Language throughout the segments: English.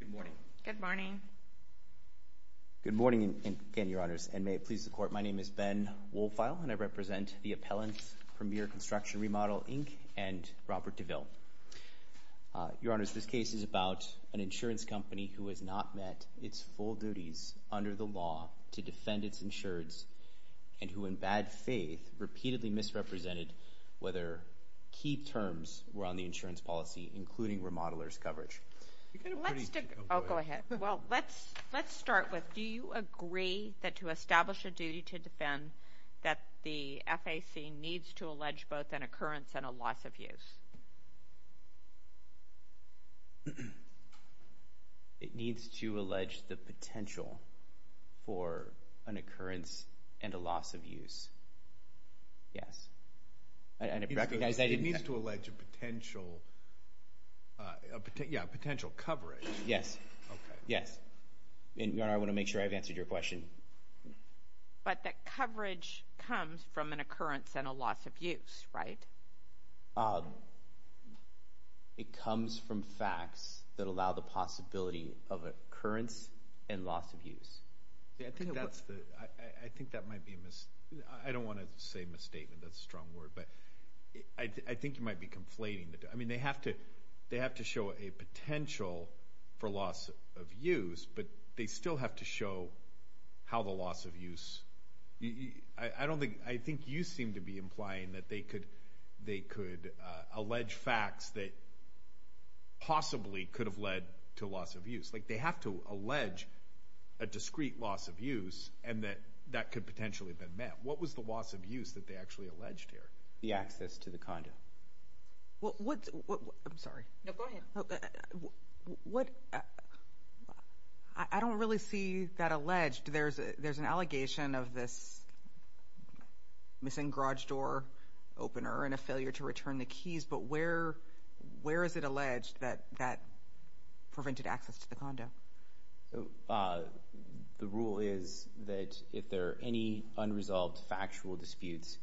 Good morning. Good morning. Good morning again, Your Honors, and may it please the Court, my name is Ben Wohlfeil and I represent the Appellant, Premier Construction & Remodel, Inc. and Robert DeVille. Your Honors, this case is about an insurance company who has not met its full duties under the law to defend its insureds and who in bad faith repeatedly misrepresented whether key terms were on the insurance policy, including remodeler's coverage. Oh, go ahead. Well, let's start with, do you agree that to establish a duty to defend that the FAC needs to allege both an occurrence and a loss of use? It needs to allege the potential for an occurrence and a loss of use. Yes, and I recognize that it needs to allege a potential, yeah, a potential coverage. Yes, yes, and Your Honor, I want to make sure I've answered your question. But that coverage comes from an occurrence and a loss of use, right? It comes from facts that allow the possibility of occurrence and loss of use. I think that's the, I think that might be a mis, I don't want to say misstatement, that's a strong word, but I think you might be conflating the two. I mean, they have to show a potential for loss of use, but they still have to show how the loss of use, I don't think, I think you seem to be implying that they could, they could allege facts that possibly could have led to loss of use. Like, they have to allege a discrete loss of use and that that could potentially have been met. What was the loss of use that they actually alleged here? The access to the condo. What, what, what, I'm sorry. No, go ahead. What, I don't really see that alleged. There's a, there's an allegation of this missing garage door opener and a failure to return the keys, but where, where is it alleged that that prevented access to the condo? So, the rule is that if there are any unresolved factual disputes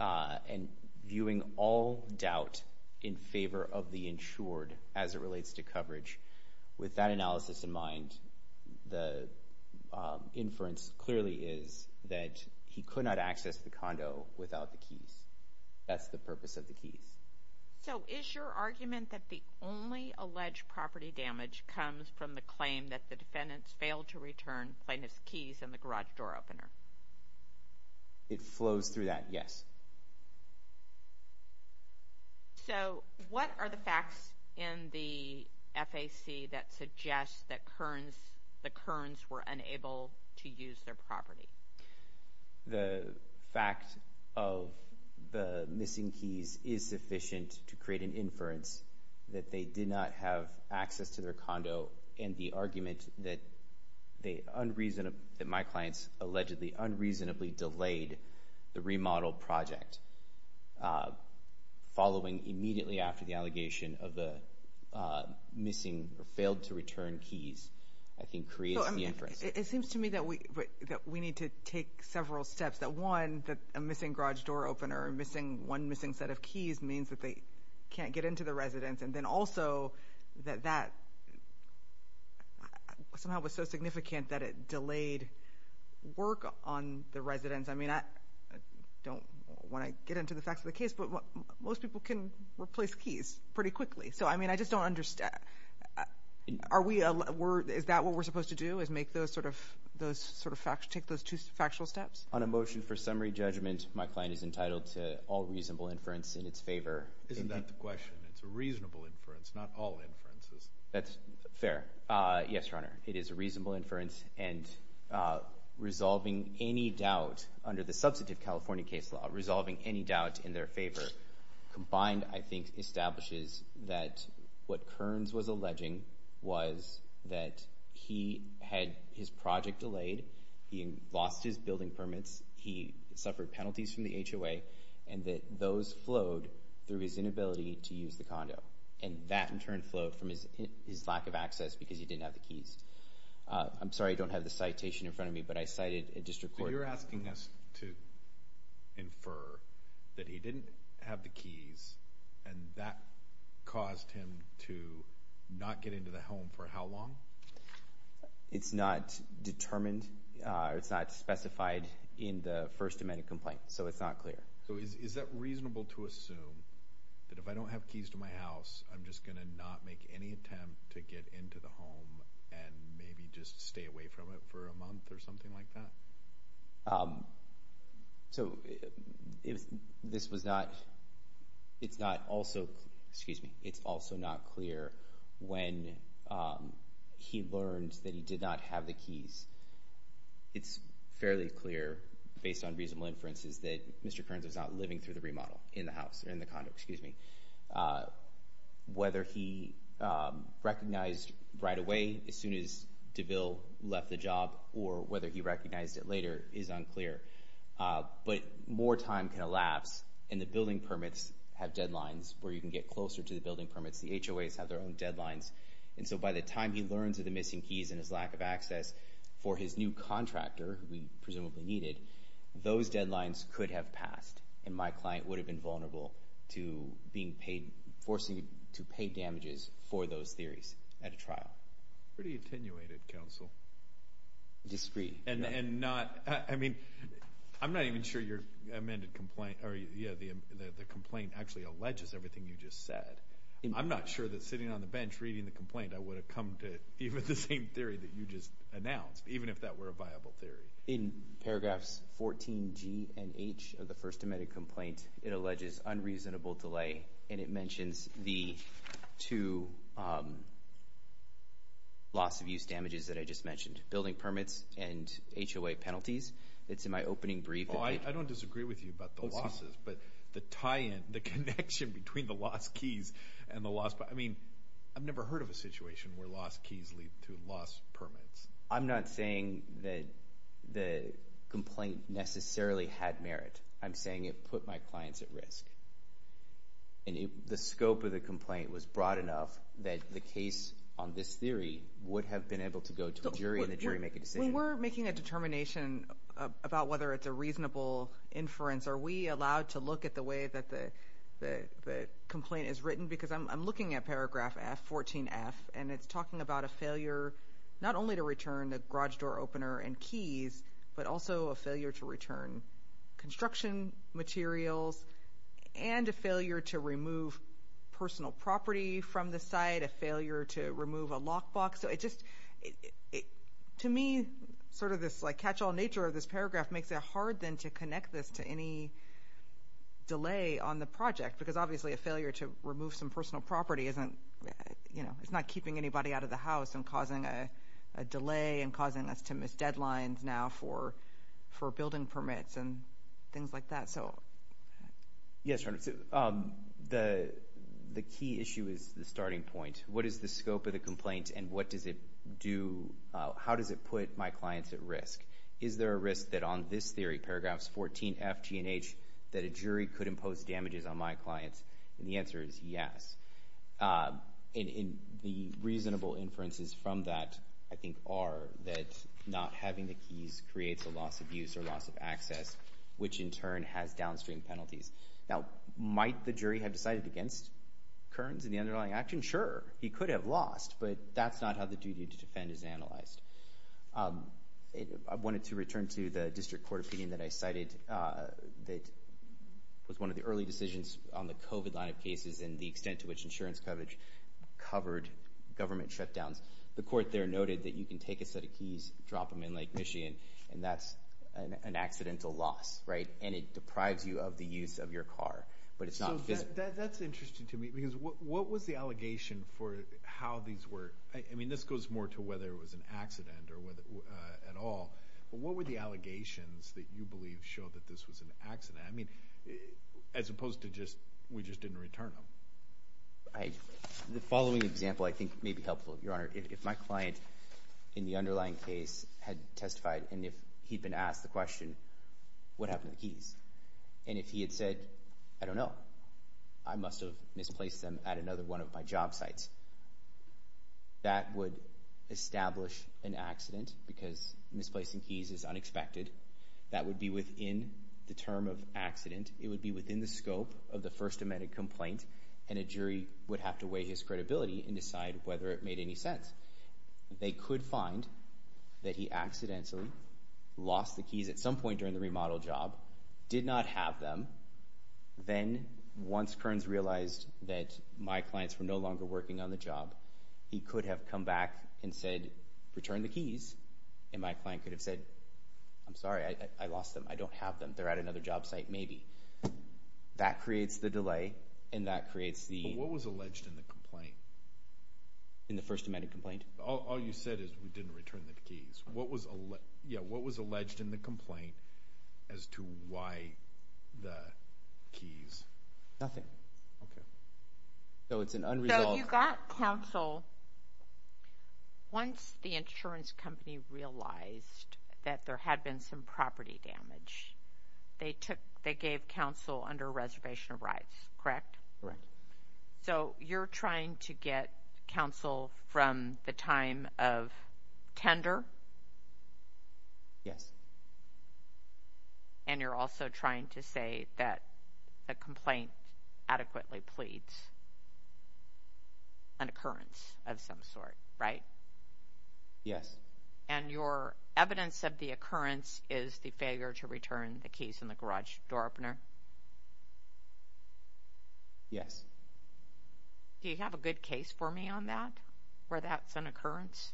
and viewing all doubt in favor of the insured as it relates to coverage, with that analysis in mind, the inference clearly is that he could not access the condo without the keys. That's the purpose of the keys. So is your argument that the only alleged property damage comes from the claim that the defendants failed to return plaintiff's keys in the garage door opener? It flows through that, yes. So what are the facts in the FAC that suggest that Kearns, the Kearns were unable to use their property? The fact of the missing keys is sufficient to create an inference that they did not have access to their condo and the argument that they unreasonable, that my clients allegedly unreasonably delayed the remodel project, following immediately after the allegation of the missing or failed to return keys, I think creates the inference. It seems to me that we need to take several steps, that one, that a missing garage door opener, one missing set of keys means that they can't get into the residence and then also that that somehow was so significant that it delayed work on the residence. I mean, I don't want to get into the facts of the case, but most people can replace keys pretty quickly. So I mean, I just don't understand. Are we, is that what we're supposed to do, is make those sort of, take those two factual steps? On a motion for summary judgment, my client is entitled to all reasonable inference in its favor. Isn't that the question? It's a reasonable inference, not all inferences. That's fair. Yes, Your Honor. It is a reasonable inference and resolving any doubt under the substantive California case law, resolving any doubt in their favor, combined I think establishes that what Kearns was alleging was that he had his project delayed, he lost his building permits, he suffered penalties from the HOA, and that those flowed through his inability to use the condo and that in turn flowed from his lack of access because he didn't have the keys. I'm sorry, I don't have the citation in front of me, but I cited a district court. So you're asking us to infer that he didn't have the keys and that caused him to not get into the home for how long? It's not determined, it's not specified in the First Amendment complaint, so it's not clear. So is that reasonable to assume that if I don't have keys to my house, I'm just going to not make any attempt to get into the home and maybe just stay away from it for a month or something like that? So this was not, it's not also, excuse me, it's also not clear when he learned that he did not have the keys. It's fairly clear based on reasonable inferences that Mr. Kearns was not living through the remodel in the house, in the condo, excuse me. Whether he recognized right away as soon as DeVille left the job or whether he recognized it later is unclear. But more time can elapse and the building permits have deadlines where you can get closer to the building permits. The HOAs have their own deadlines and so by the time he learns of the missing keys and his lack of access for his new contractor, who he presumably needed, those deadlines could have passed and my client would have been vulnerable to being paid, forcing to pay damages for those theories at a trial. Pretty attenuated counsel. Discreet. And not, I mean, I'm not even sure your amended complaint, or yeah, the complaint actually alleges everything you just said. I'm not sure that sitting on the bench reading the complaint, I would have come to even the same theory that you just announced, even if that were a viable theory. In paragraphs 14G and H of the first amended complaint, it alleges unreasonable delay and it mentions the two loss of use damages that I just mentioned. Building permits and HOA penalties. It's in my opening brief. Oh, I don't disagree with you about the losses, but the tie-in, the connection between the lost keys and the lost, I mean, I've never heard of a situation where lost keys lead to lost permits. I'm not saying that the complaint necessarily had merit. I'm saying it put my clients at risk. And the scope of the complaint was broad enough that the case on this theory would have been able to go to a jury and the jury make a decision. When we're making a determination about whether it's a reasonable inference, are we allowed to look at the way that the complaint is written? I'm looking at paragraph 14F and it's talking about a failure not only to return the garage door opener and keys, but also a failure to return construction materials and a failure to remove personal property from the site, a failure to remove a lockbox. To me, sort of this catch-all nature of this paragraph makes it hard then to connect this to any delay on the project, because obviously a failure to remove some personal property isn't, you know, it's not keeping anybody out of the house and causing a delay and causing us to miss deadlines now for building permits and things like that, so. Yes, the key issue is the starting point. What is the scope of the complaint and what does it do, how does it put my clients at risk? Is there a risk that on this theory, paragraphs 14F, G and H, that a jury could impose damages on my clients? And the answer is yes. And the reasonable inferences from that, I think, are that not having the keys creates a loss of use or loss of access, which in turn has downstream penalties. Now, might the jury have decided against Kearns and the underlying action? Sure, he could have lost, but that's not how the duty to defend is analyzed. I wanted to return to the district court opinion that I cited that was one of the early decisions on the COVID line of cases and the extent to which insurance coverage covered government shutdowns. The court there noted that you can take a set of keys, drop them in Lake Michigan, and that's an accidental loss, right? And it deprives you of the use of your car, but it's not. That's interesting to me, because what was the allegation for how these were, I mean, this goes more to whether it was an accident at all, but what were the allegations that you believe showed that this was an accident, I mean, as opposed to just, we just didn't return them? The following example I think may be helpful, Your Honor. If my client in the underlying case had testified, and if he'd been asked the question, what happened to the keys? And if he had said, I don't know, I must have misplaced them at another one of my job sites. That would establish an accident, because misplacing keys is unexpected. That would be within the term of accident, it would be within the scope of the First Amendment complaint, and a jury would have to weigh his credibility and decide whether it made any sense. They could find that he accidentally lost the keys at some point during the remodel job, did not have them, then once Kearns realized that my clients were no longer working on the job, he could have come back and said, return the keys, and my client could have said, I'm sorry, I lost them, I don't have them, they're at another job site, maybe. That creates the delay, and that creates the... But what was alleged in the complaint? In the First Amendment complaint? All you said is we didn't return the keys. What was alleged in the complaint as to why the keys? Nothing. Okay. So it's an unresolved... So you got counsel once the insurance company realized that there had been some property damage. They took... They gave counsel under a reservation of rights, correct? Correct. So you're trying to get counsel from the time of tender? Yes. And you're also trying to say that the complaint adequately pleads an occurrence of some sort, right? Yes. And your evidence of the occurrence is the failure to return the keys in the garage door opener? Yes. Do you have a good case for me on that, where that's an occurrence?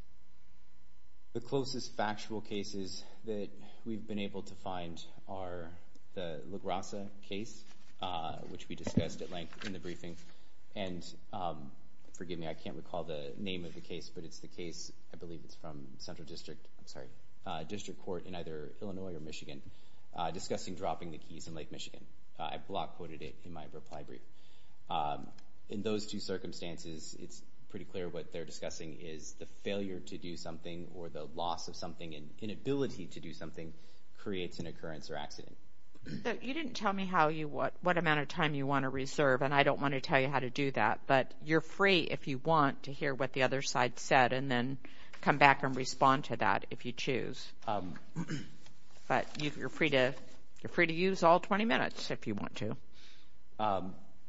The closest factual cases that we've been able to find are the LaGrasa case, which we discussed at length in the briefing. And forgive me, I can't recall the name of the case, but it's the case, I believe it's from Central District, I'm sorry, District Court in either Illinois or Michigan, discussing dropping the keys in Lake Michigan. I block quoted it in my reply brief. In those two circumstances, it's pretty clear what they're discussing is the failure to do something or the loss of something and inability to do something creates an occurrence or accident. So you didn't tell me what amount of time you want to reserve, and I don't want to tell you how to do that, but you're free if you want to hear what the other side said and then come back and respond to that if you choose. But you're free to use all 20 minutes if you want to.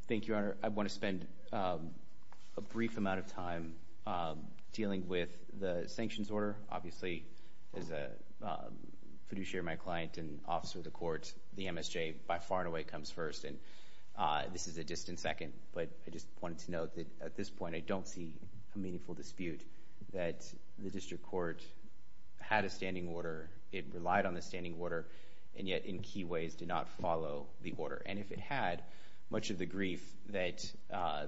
Thank you, Your Honor. I want to spend a brief amount of time dealing with the sanctions order. Obviously, as a fiduciary of my client and officer of the court, the MSJ by far and away comes first, and this is a distant second, but I just wanted to note that at this point I don't see a meaningful dispute that the District Court had a standing order, it relied on the standing order, and yet in key ways did not follow the order, and if it had, much of the grief that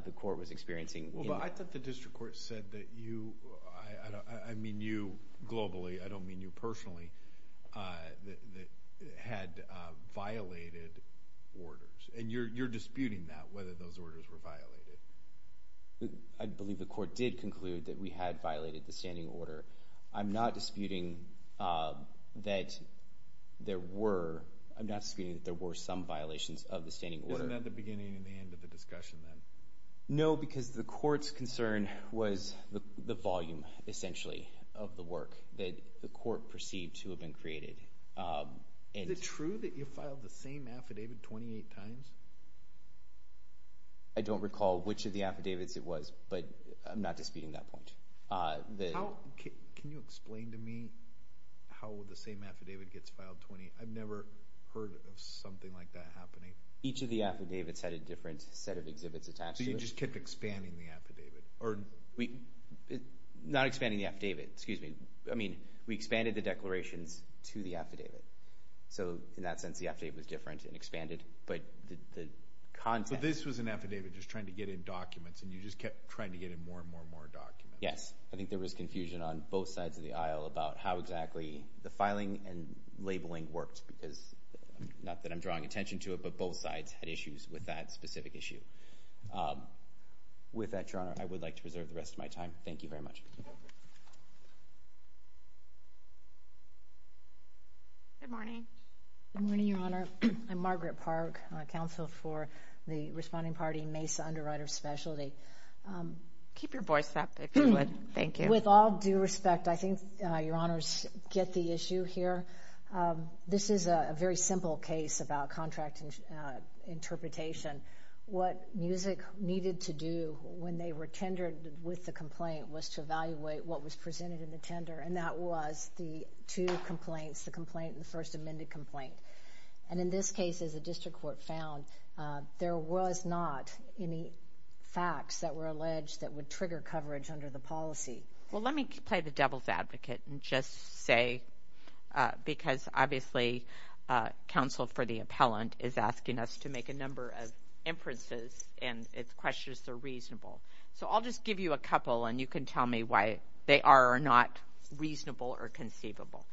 the court was experiencing... I thought the District Court said that you, I mean you globally, I don't mean you personally, had violated orders, and you're disputing that, whether those orders were violated. I believe the court did conclude that we had violated the standing order. I'm not disputing that there were, I'm not disputing that there were some violations of the standing order. Isn't that the beginning and the end of the discussion then? No, because the court's concern was the volume, essentially, of the work that the court perceived to have been created. Is it true that you filed the same affidavit 28 times? I don't recall which of the affidavits it was, but I'm not disputing that point. Can you explain to me how the same affidavit gets filed 20, I've never heard of something like that happening. Each of the affidavits had a different set of exhibits attached to it. So you just kept expanding the affidavit? Not expanding the affidavit, excuse me, I mean we expanded the declarations to the affidavit, so in that sense the affidavit was different and expanded, but the content... So this was an affidavit just trying to get in documents and you just kept trying to get in more and more and more documents. Yes. I think there was confusion on both sides of the aisle about how exactly the filing and labeling worked because, not that I'm drawing attention to it, but both sides had issues with that specific issue. With that, Your Honor, I would like to reserve the rest of my time. Thank you very much. Good morning. Good morning, Your Honor. I'm Margaret Park, counsel for the responding party Mesa Underwriters' Specialty. Keep your voice up if you would, thank you. With all due respect, I think Your Honors get the issue here. This is a very simple case about contract interpretation. What MUSIC needed to do when they were tendered with the complaint was to evaluate what was presented in the tender, and that was the two complaints, the complaint and the first amended complaint. And in this case, as the district court found, there was not any facts that were alleged that would trigger coverage under the policy. Well, let me play the devil's advocate and just say, because obviously counsel for the appellant is asking us to make a number of inferences, and its questions are reasonable. So I'll just give you a couple, and you can tell me why they are or are not reasonable or conceivable.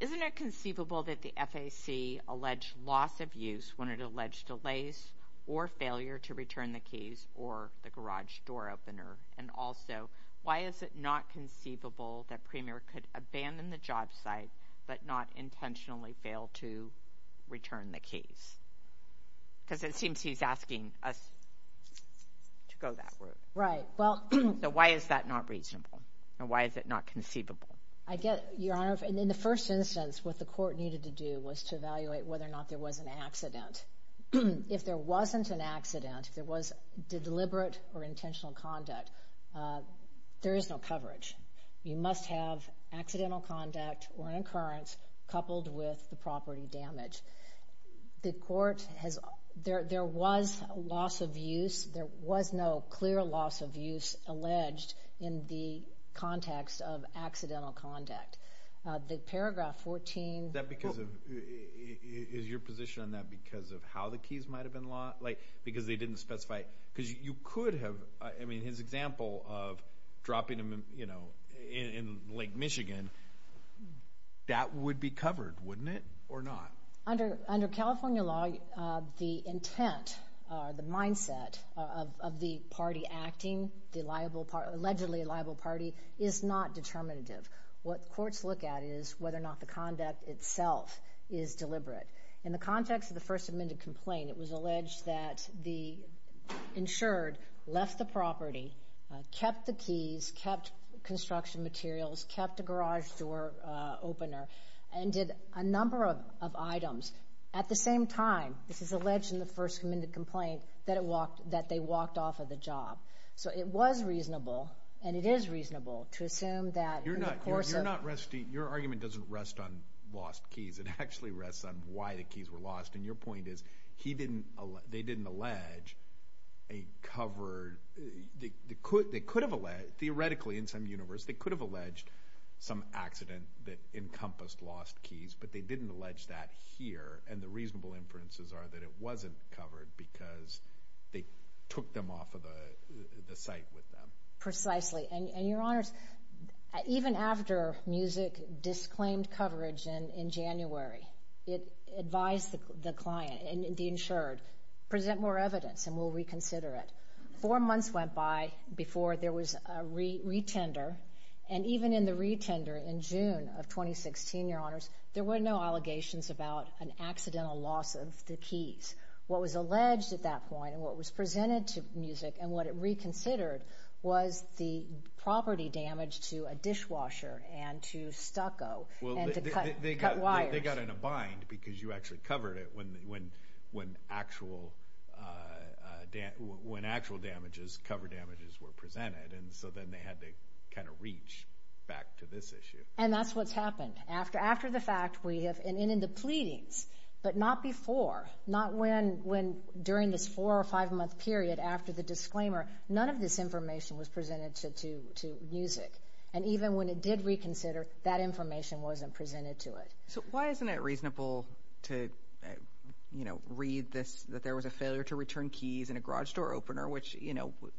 Isn't it conceivable that the FAC alleged loss of use when it alleged delays or failure to return the keys or the garage door opener? And also, why is it not conceivable that Premier could abandon the job site but not intentionally fail to return the keys? Because it seems he's asking us to go that route. Right. So why is that not reasonable, and why is it not conceivable? I get it, Your Honor. In the first instance, what the court needed to do was to evaluate whether or not there was an accident. If there wasn't an accident, if there was deliberate or intentional conduct, there is no coverage. You must have accidental conduct or an occurrence coupled with the property damage. There was a loss of use. There was no clear loss of use alleged in the context of accidental conduct. The paragraph 14. Is your position on that because of how the keys might have been lost? Because they didn't specify. Because you could have. I mean, his example of dropping them in Lake Michigan, that would be covered, wouldn't it, or not? Under California law, the intent or the mindset of the party acting, the allegedly liable party, is not determinative. What courts look at is whether or not the conduct itself is deliberate. In the context of the first amended complaint, it was alleged that the insured left the property, kept the keys, kept construction materials, kept a garage door opener, and did a number of items. At the same time, this is alleged in the first amended complaint, that they walked off of the job. So it was reasonable, and it is reasonable, to assume that in the course of. You're not resting. Your argument doesn't rest on lost keys. It actually rests on why the keys were lost. And your point is they didn't allege a covered. They could have alleged, theoretically, in some universe, they could have alleged some accident that encompassed lost keys, but they didn't allege that here. And the reasonable inferences are that it wasn't covered because they took them off of the site with them. Precisely. And, Your Honors, even after MUSIC disclaimed coverage in January, it advised the client and the insured, present more evidence and we'll reconsider it. Four months went by before there was a retender. And even in the retender in June of 2016, Your Honors, there were no allegations about an accidental loss of the keys. What was alleged at that point and what was presented to MUSIC and what it reconsidered was the property damage to a dishwasher and to stucco and to cut wires. They got in a bind because you actually covered it when actual damages, cover damages, were presented. And so then they had to kind of reach back to this issue. And that's what's happened. After the fact, we have ended the pleadings, but not before. Not when during this four- or five-month period after the disclaimer, none of this information was presented to MUSIC. And even when it did reconsider, that information wasn't presented to it. So why isn't it reasonable to read this, that there was a failure to return keys in a garage door opener, which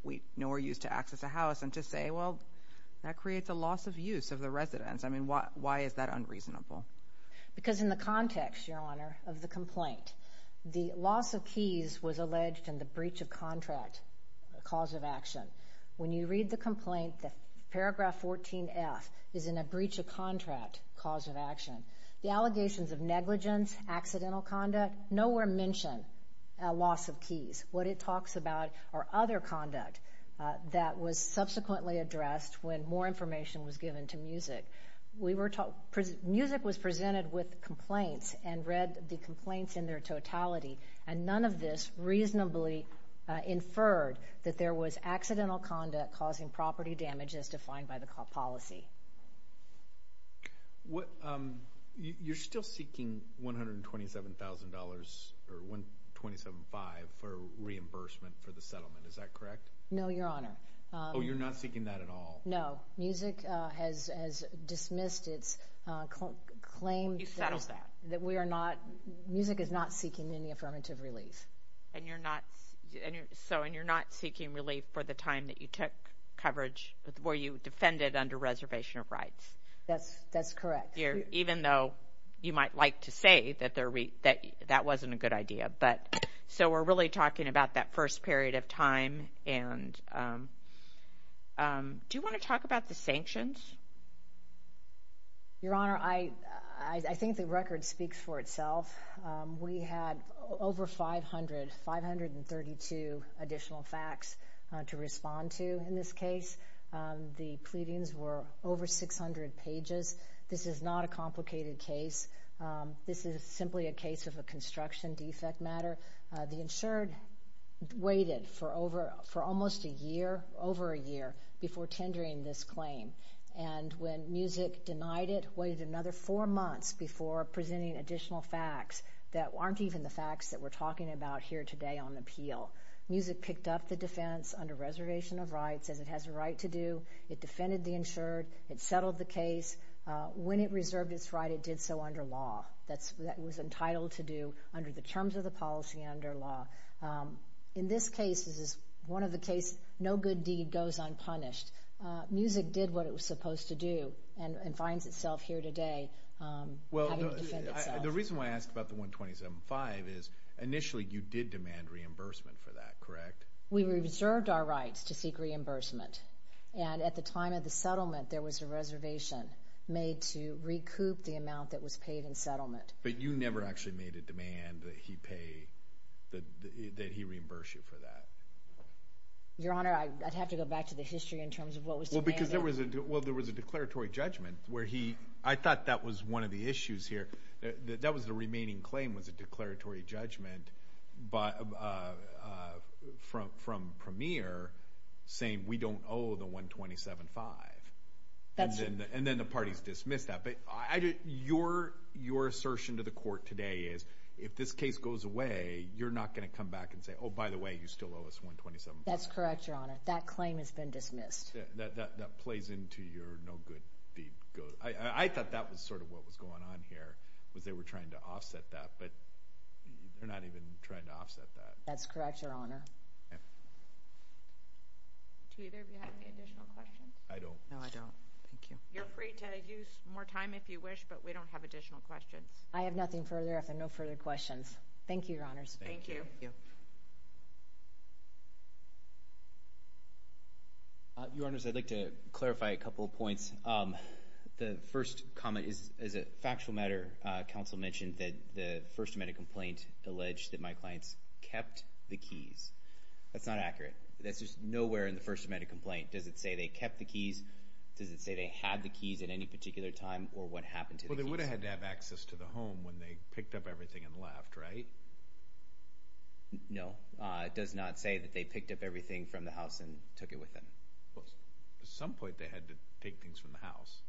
we know are used to access a house, and to say, well, that creates a loss of use of the residence. I mean, why is that unreasonable? Because in the context, Your Honor, of the complaint, the loss of keys was alleged in the breach of contract cause of action. When you read the complaint, paragraph 14F is in a breach of contract cause of action. The allegations of negligence, accidental conduct, nowhere mention a loss of keys. What it talks about are other conduct that was subsequently addressed when more information was given to MUSIC. MUSIC was presented with complaints and read the complaints in their totality, and none of this reasonably inferred that there was accidental conduct causing property damage as defined by the policy. You're still seeking $127,000, or $127,500 for reimbursement for the settlement, is that correct? No, Your Honor. Oh, you're not seeking that at all? No. MUSIC has dismissed its claim that we are not, MUSIC is not seeking any affirmative relief. And you're not seeking relief for the time that you took coverage, where you defended under reservation of rights? That's correct. Even though you might like to say that that wasn't a good idea. So we're really talking about that first period of time, and do you want to talk about the sanctions? Your Honor, I think the record speaks for itself. We had over 500, 532 additional facts to respond to in this case. The pleadings were over 600 pages. This is not a complicated case. This is simply a case of a construction defect matter. The insured waited for almost a year, over a year, before tendering this claim. And when MUSIC denied it, waited another four months before presenting additional facts that aren't even the facts that we're talking about here today on appeal. MUSIC picked up the defense under reservation of rights, as it has a right to do. It defended the insured. It settled the case. When it reserved its right, it did so under law. That was entitled to do under the terms of the policy and under law. In this case, this is one of the cases, no good deed goes unpunished. MUSIC did what it was supposed to do and finds itself here today having to defend itself. The reason why I asked about the 127.5 is initially you did demand reimbursement for that, correct? We reserved our rights to seek reimbursement, and at the time of the settlement there was a reservation made to recoup the amount that was paid in settlement. But you never actually made a demand that he pay, that he reimburse you for that. Your Honor, I'd have to go back to the history in terms of what was demanded. Well, because there was a declaratory judgment where he—I thought that was one of the issues here. That was the remaining claim was a declaratory judgment from Premier saying we don't owe the 127.5. And then the parties dismissed that. But your assertion to the court today is if this case goes away, you're not going to come back and say, oh, by the way, you still owe us 127.5. That's correct, Your Honor. That claim has been dismissed. That plays into your no good deed goes—I thought that was sort of what was going on here, was they were trying to offset that, but they're not even trying to offset that. That's correct, Your Honor. Do either of you have any additional questions? I don't. No, I don't. Thank you. You're free to use more time if you wish, but we don't have additional questions. I have nothing further. I have no further questions. Thank you, Your Honors. Thank you. Your Honors, I'd like to clarify a couple of points. The first comment is a factual matter. Counsel mentioned that the First Amendment complaint alleged that my clients kept the keys. That's not accurate. That's just nowhere in the First Amendment complaint. Does it say they kept the keys? Does it say they had the keys at any particular time or what happened to the keys? They had to have access to the home when they picked up everything and left, right? No. It does not say that they picked up everything from the house and took it with them. At some point, they had to take things from the house.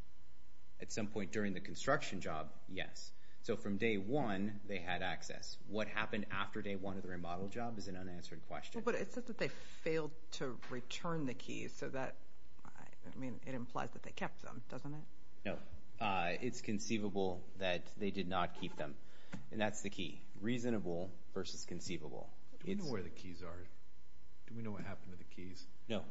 At some point during the construction job, yes. So from day one, they had access. What happened after day one of the remodel job is an unanswered question. But it says that they failed to return the keys, so that—I mean, it implies that they kept them, doesn't it? No. It's conceivable that they did not keep them, and that's the key. Reasonable versus conceivable. Do we know where the keys are? Do we know what happened to the keys? No.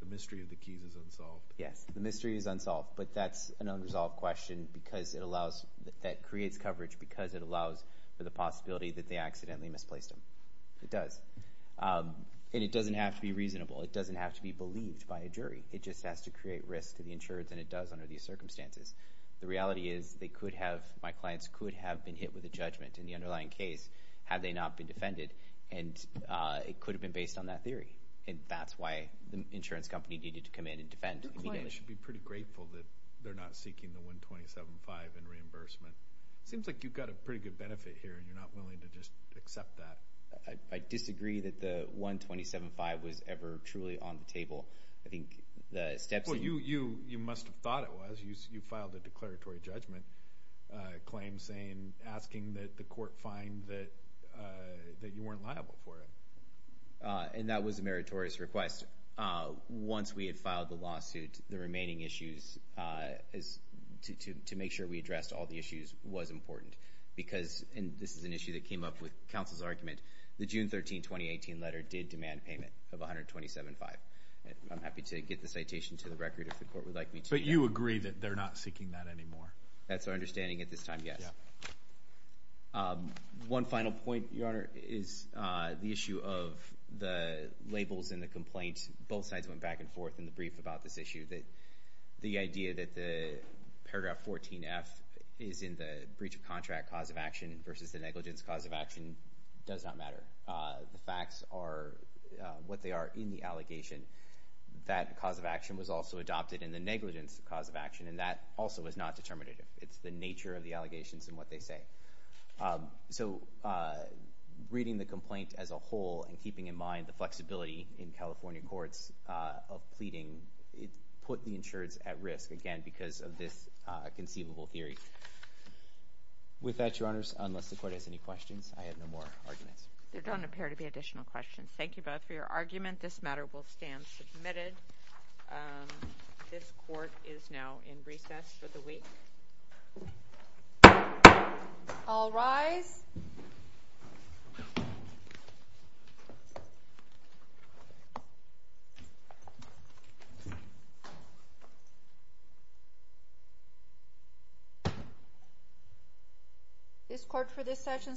The mystery of the keys is unsolved. Yes, the mystery is unsolved, but that's an unresolved question because it allows—that creates coverage because it allows for the possibility that they accidentally misplaced them. It does. And it doesn't have to be reasonable. It doesn't have to be believed by a jury. It just has to create risk to the insurance, and it does under these circumstances. The reality is they could have—my clients could have been hit with a judgment in the underlying case had they not been defended, and it could have been based on that theory. And that's why the insurance company needed to come in and defend immediately. Your client should be pretty grateful that they're not seeking the 127.5 in reimbursement. It seems like you've got a pretty good benefit here, and you're not willing to just accept that. Well, you must have thought it was. You filed a declaratory judgment claim asking that the court find that you weren't liable for it. And that was a meritorious request. Once we had filed the lawsuit, the remaining issues to make sure we addressed all the issues was important because—and this is an issue that came up with counsel's argument—the June 13, 2018 letter did demand payment of 127.5. I'm happy to get the citation to the record if the court would like me to. But you agree that they're not seeking that anymore? That's our understanding at this time, yes. One final point, Your Honor, is the issue of the labels in the complaint. Both sides went back and forth in the brief about this issue that the idea that the paragraph 14F is in the breach of contract cause of action versus the negligence cause of action does not matter. The facts are what they are in the allegation. That cause of action was also adopted in the negligence cause of action, and that also is not determinative. It's the nature of the allegations and what they say. So reading the complaint as a whole and keeping in mind the flexibility in California courts of pleading put the insureds at risk again because of this conceivable theory. With that, Your Honors, unless the court has any questions, I have no more arguments. There don't appear to be additional questions. Thank you both for your argument. This matter will stand submitted. This court is now in recess for the week. All rise. This court for this session stands adjourned.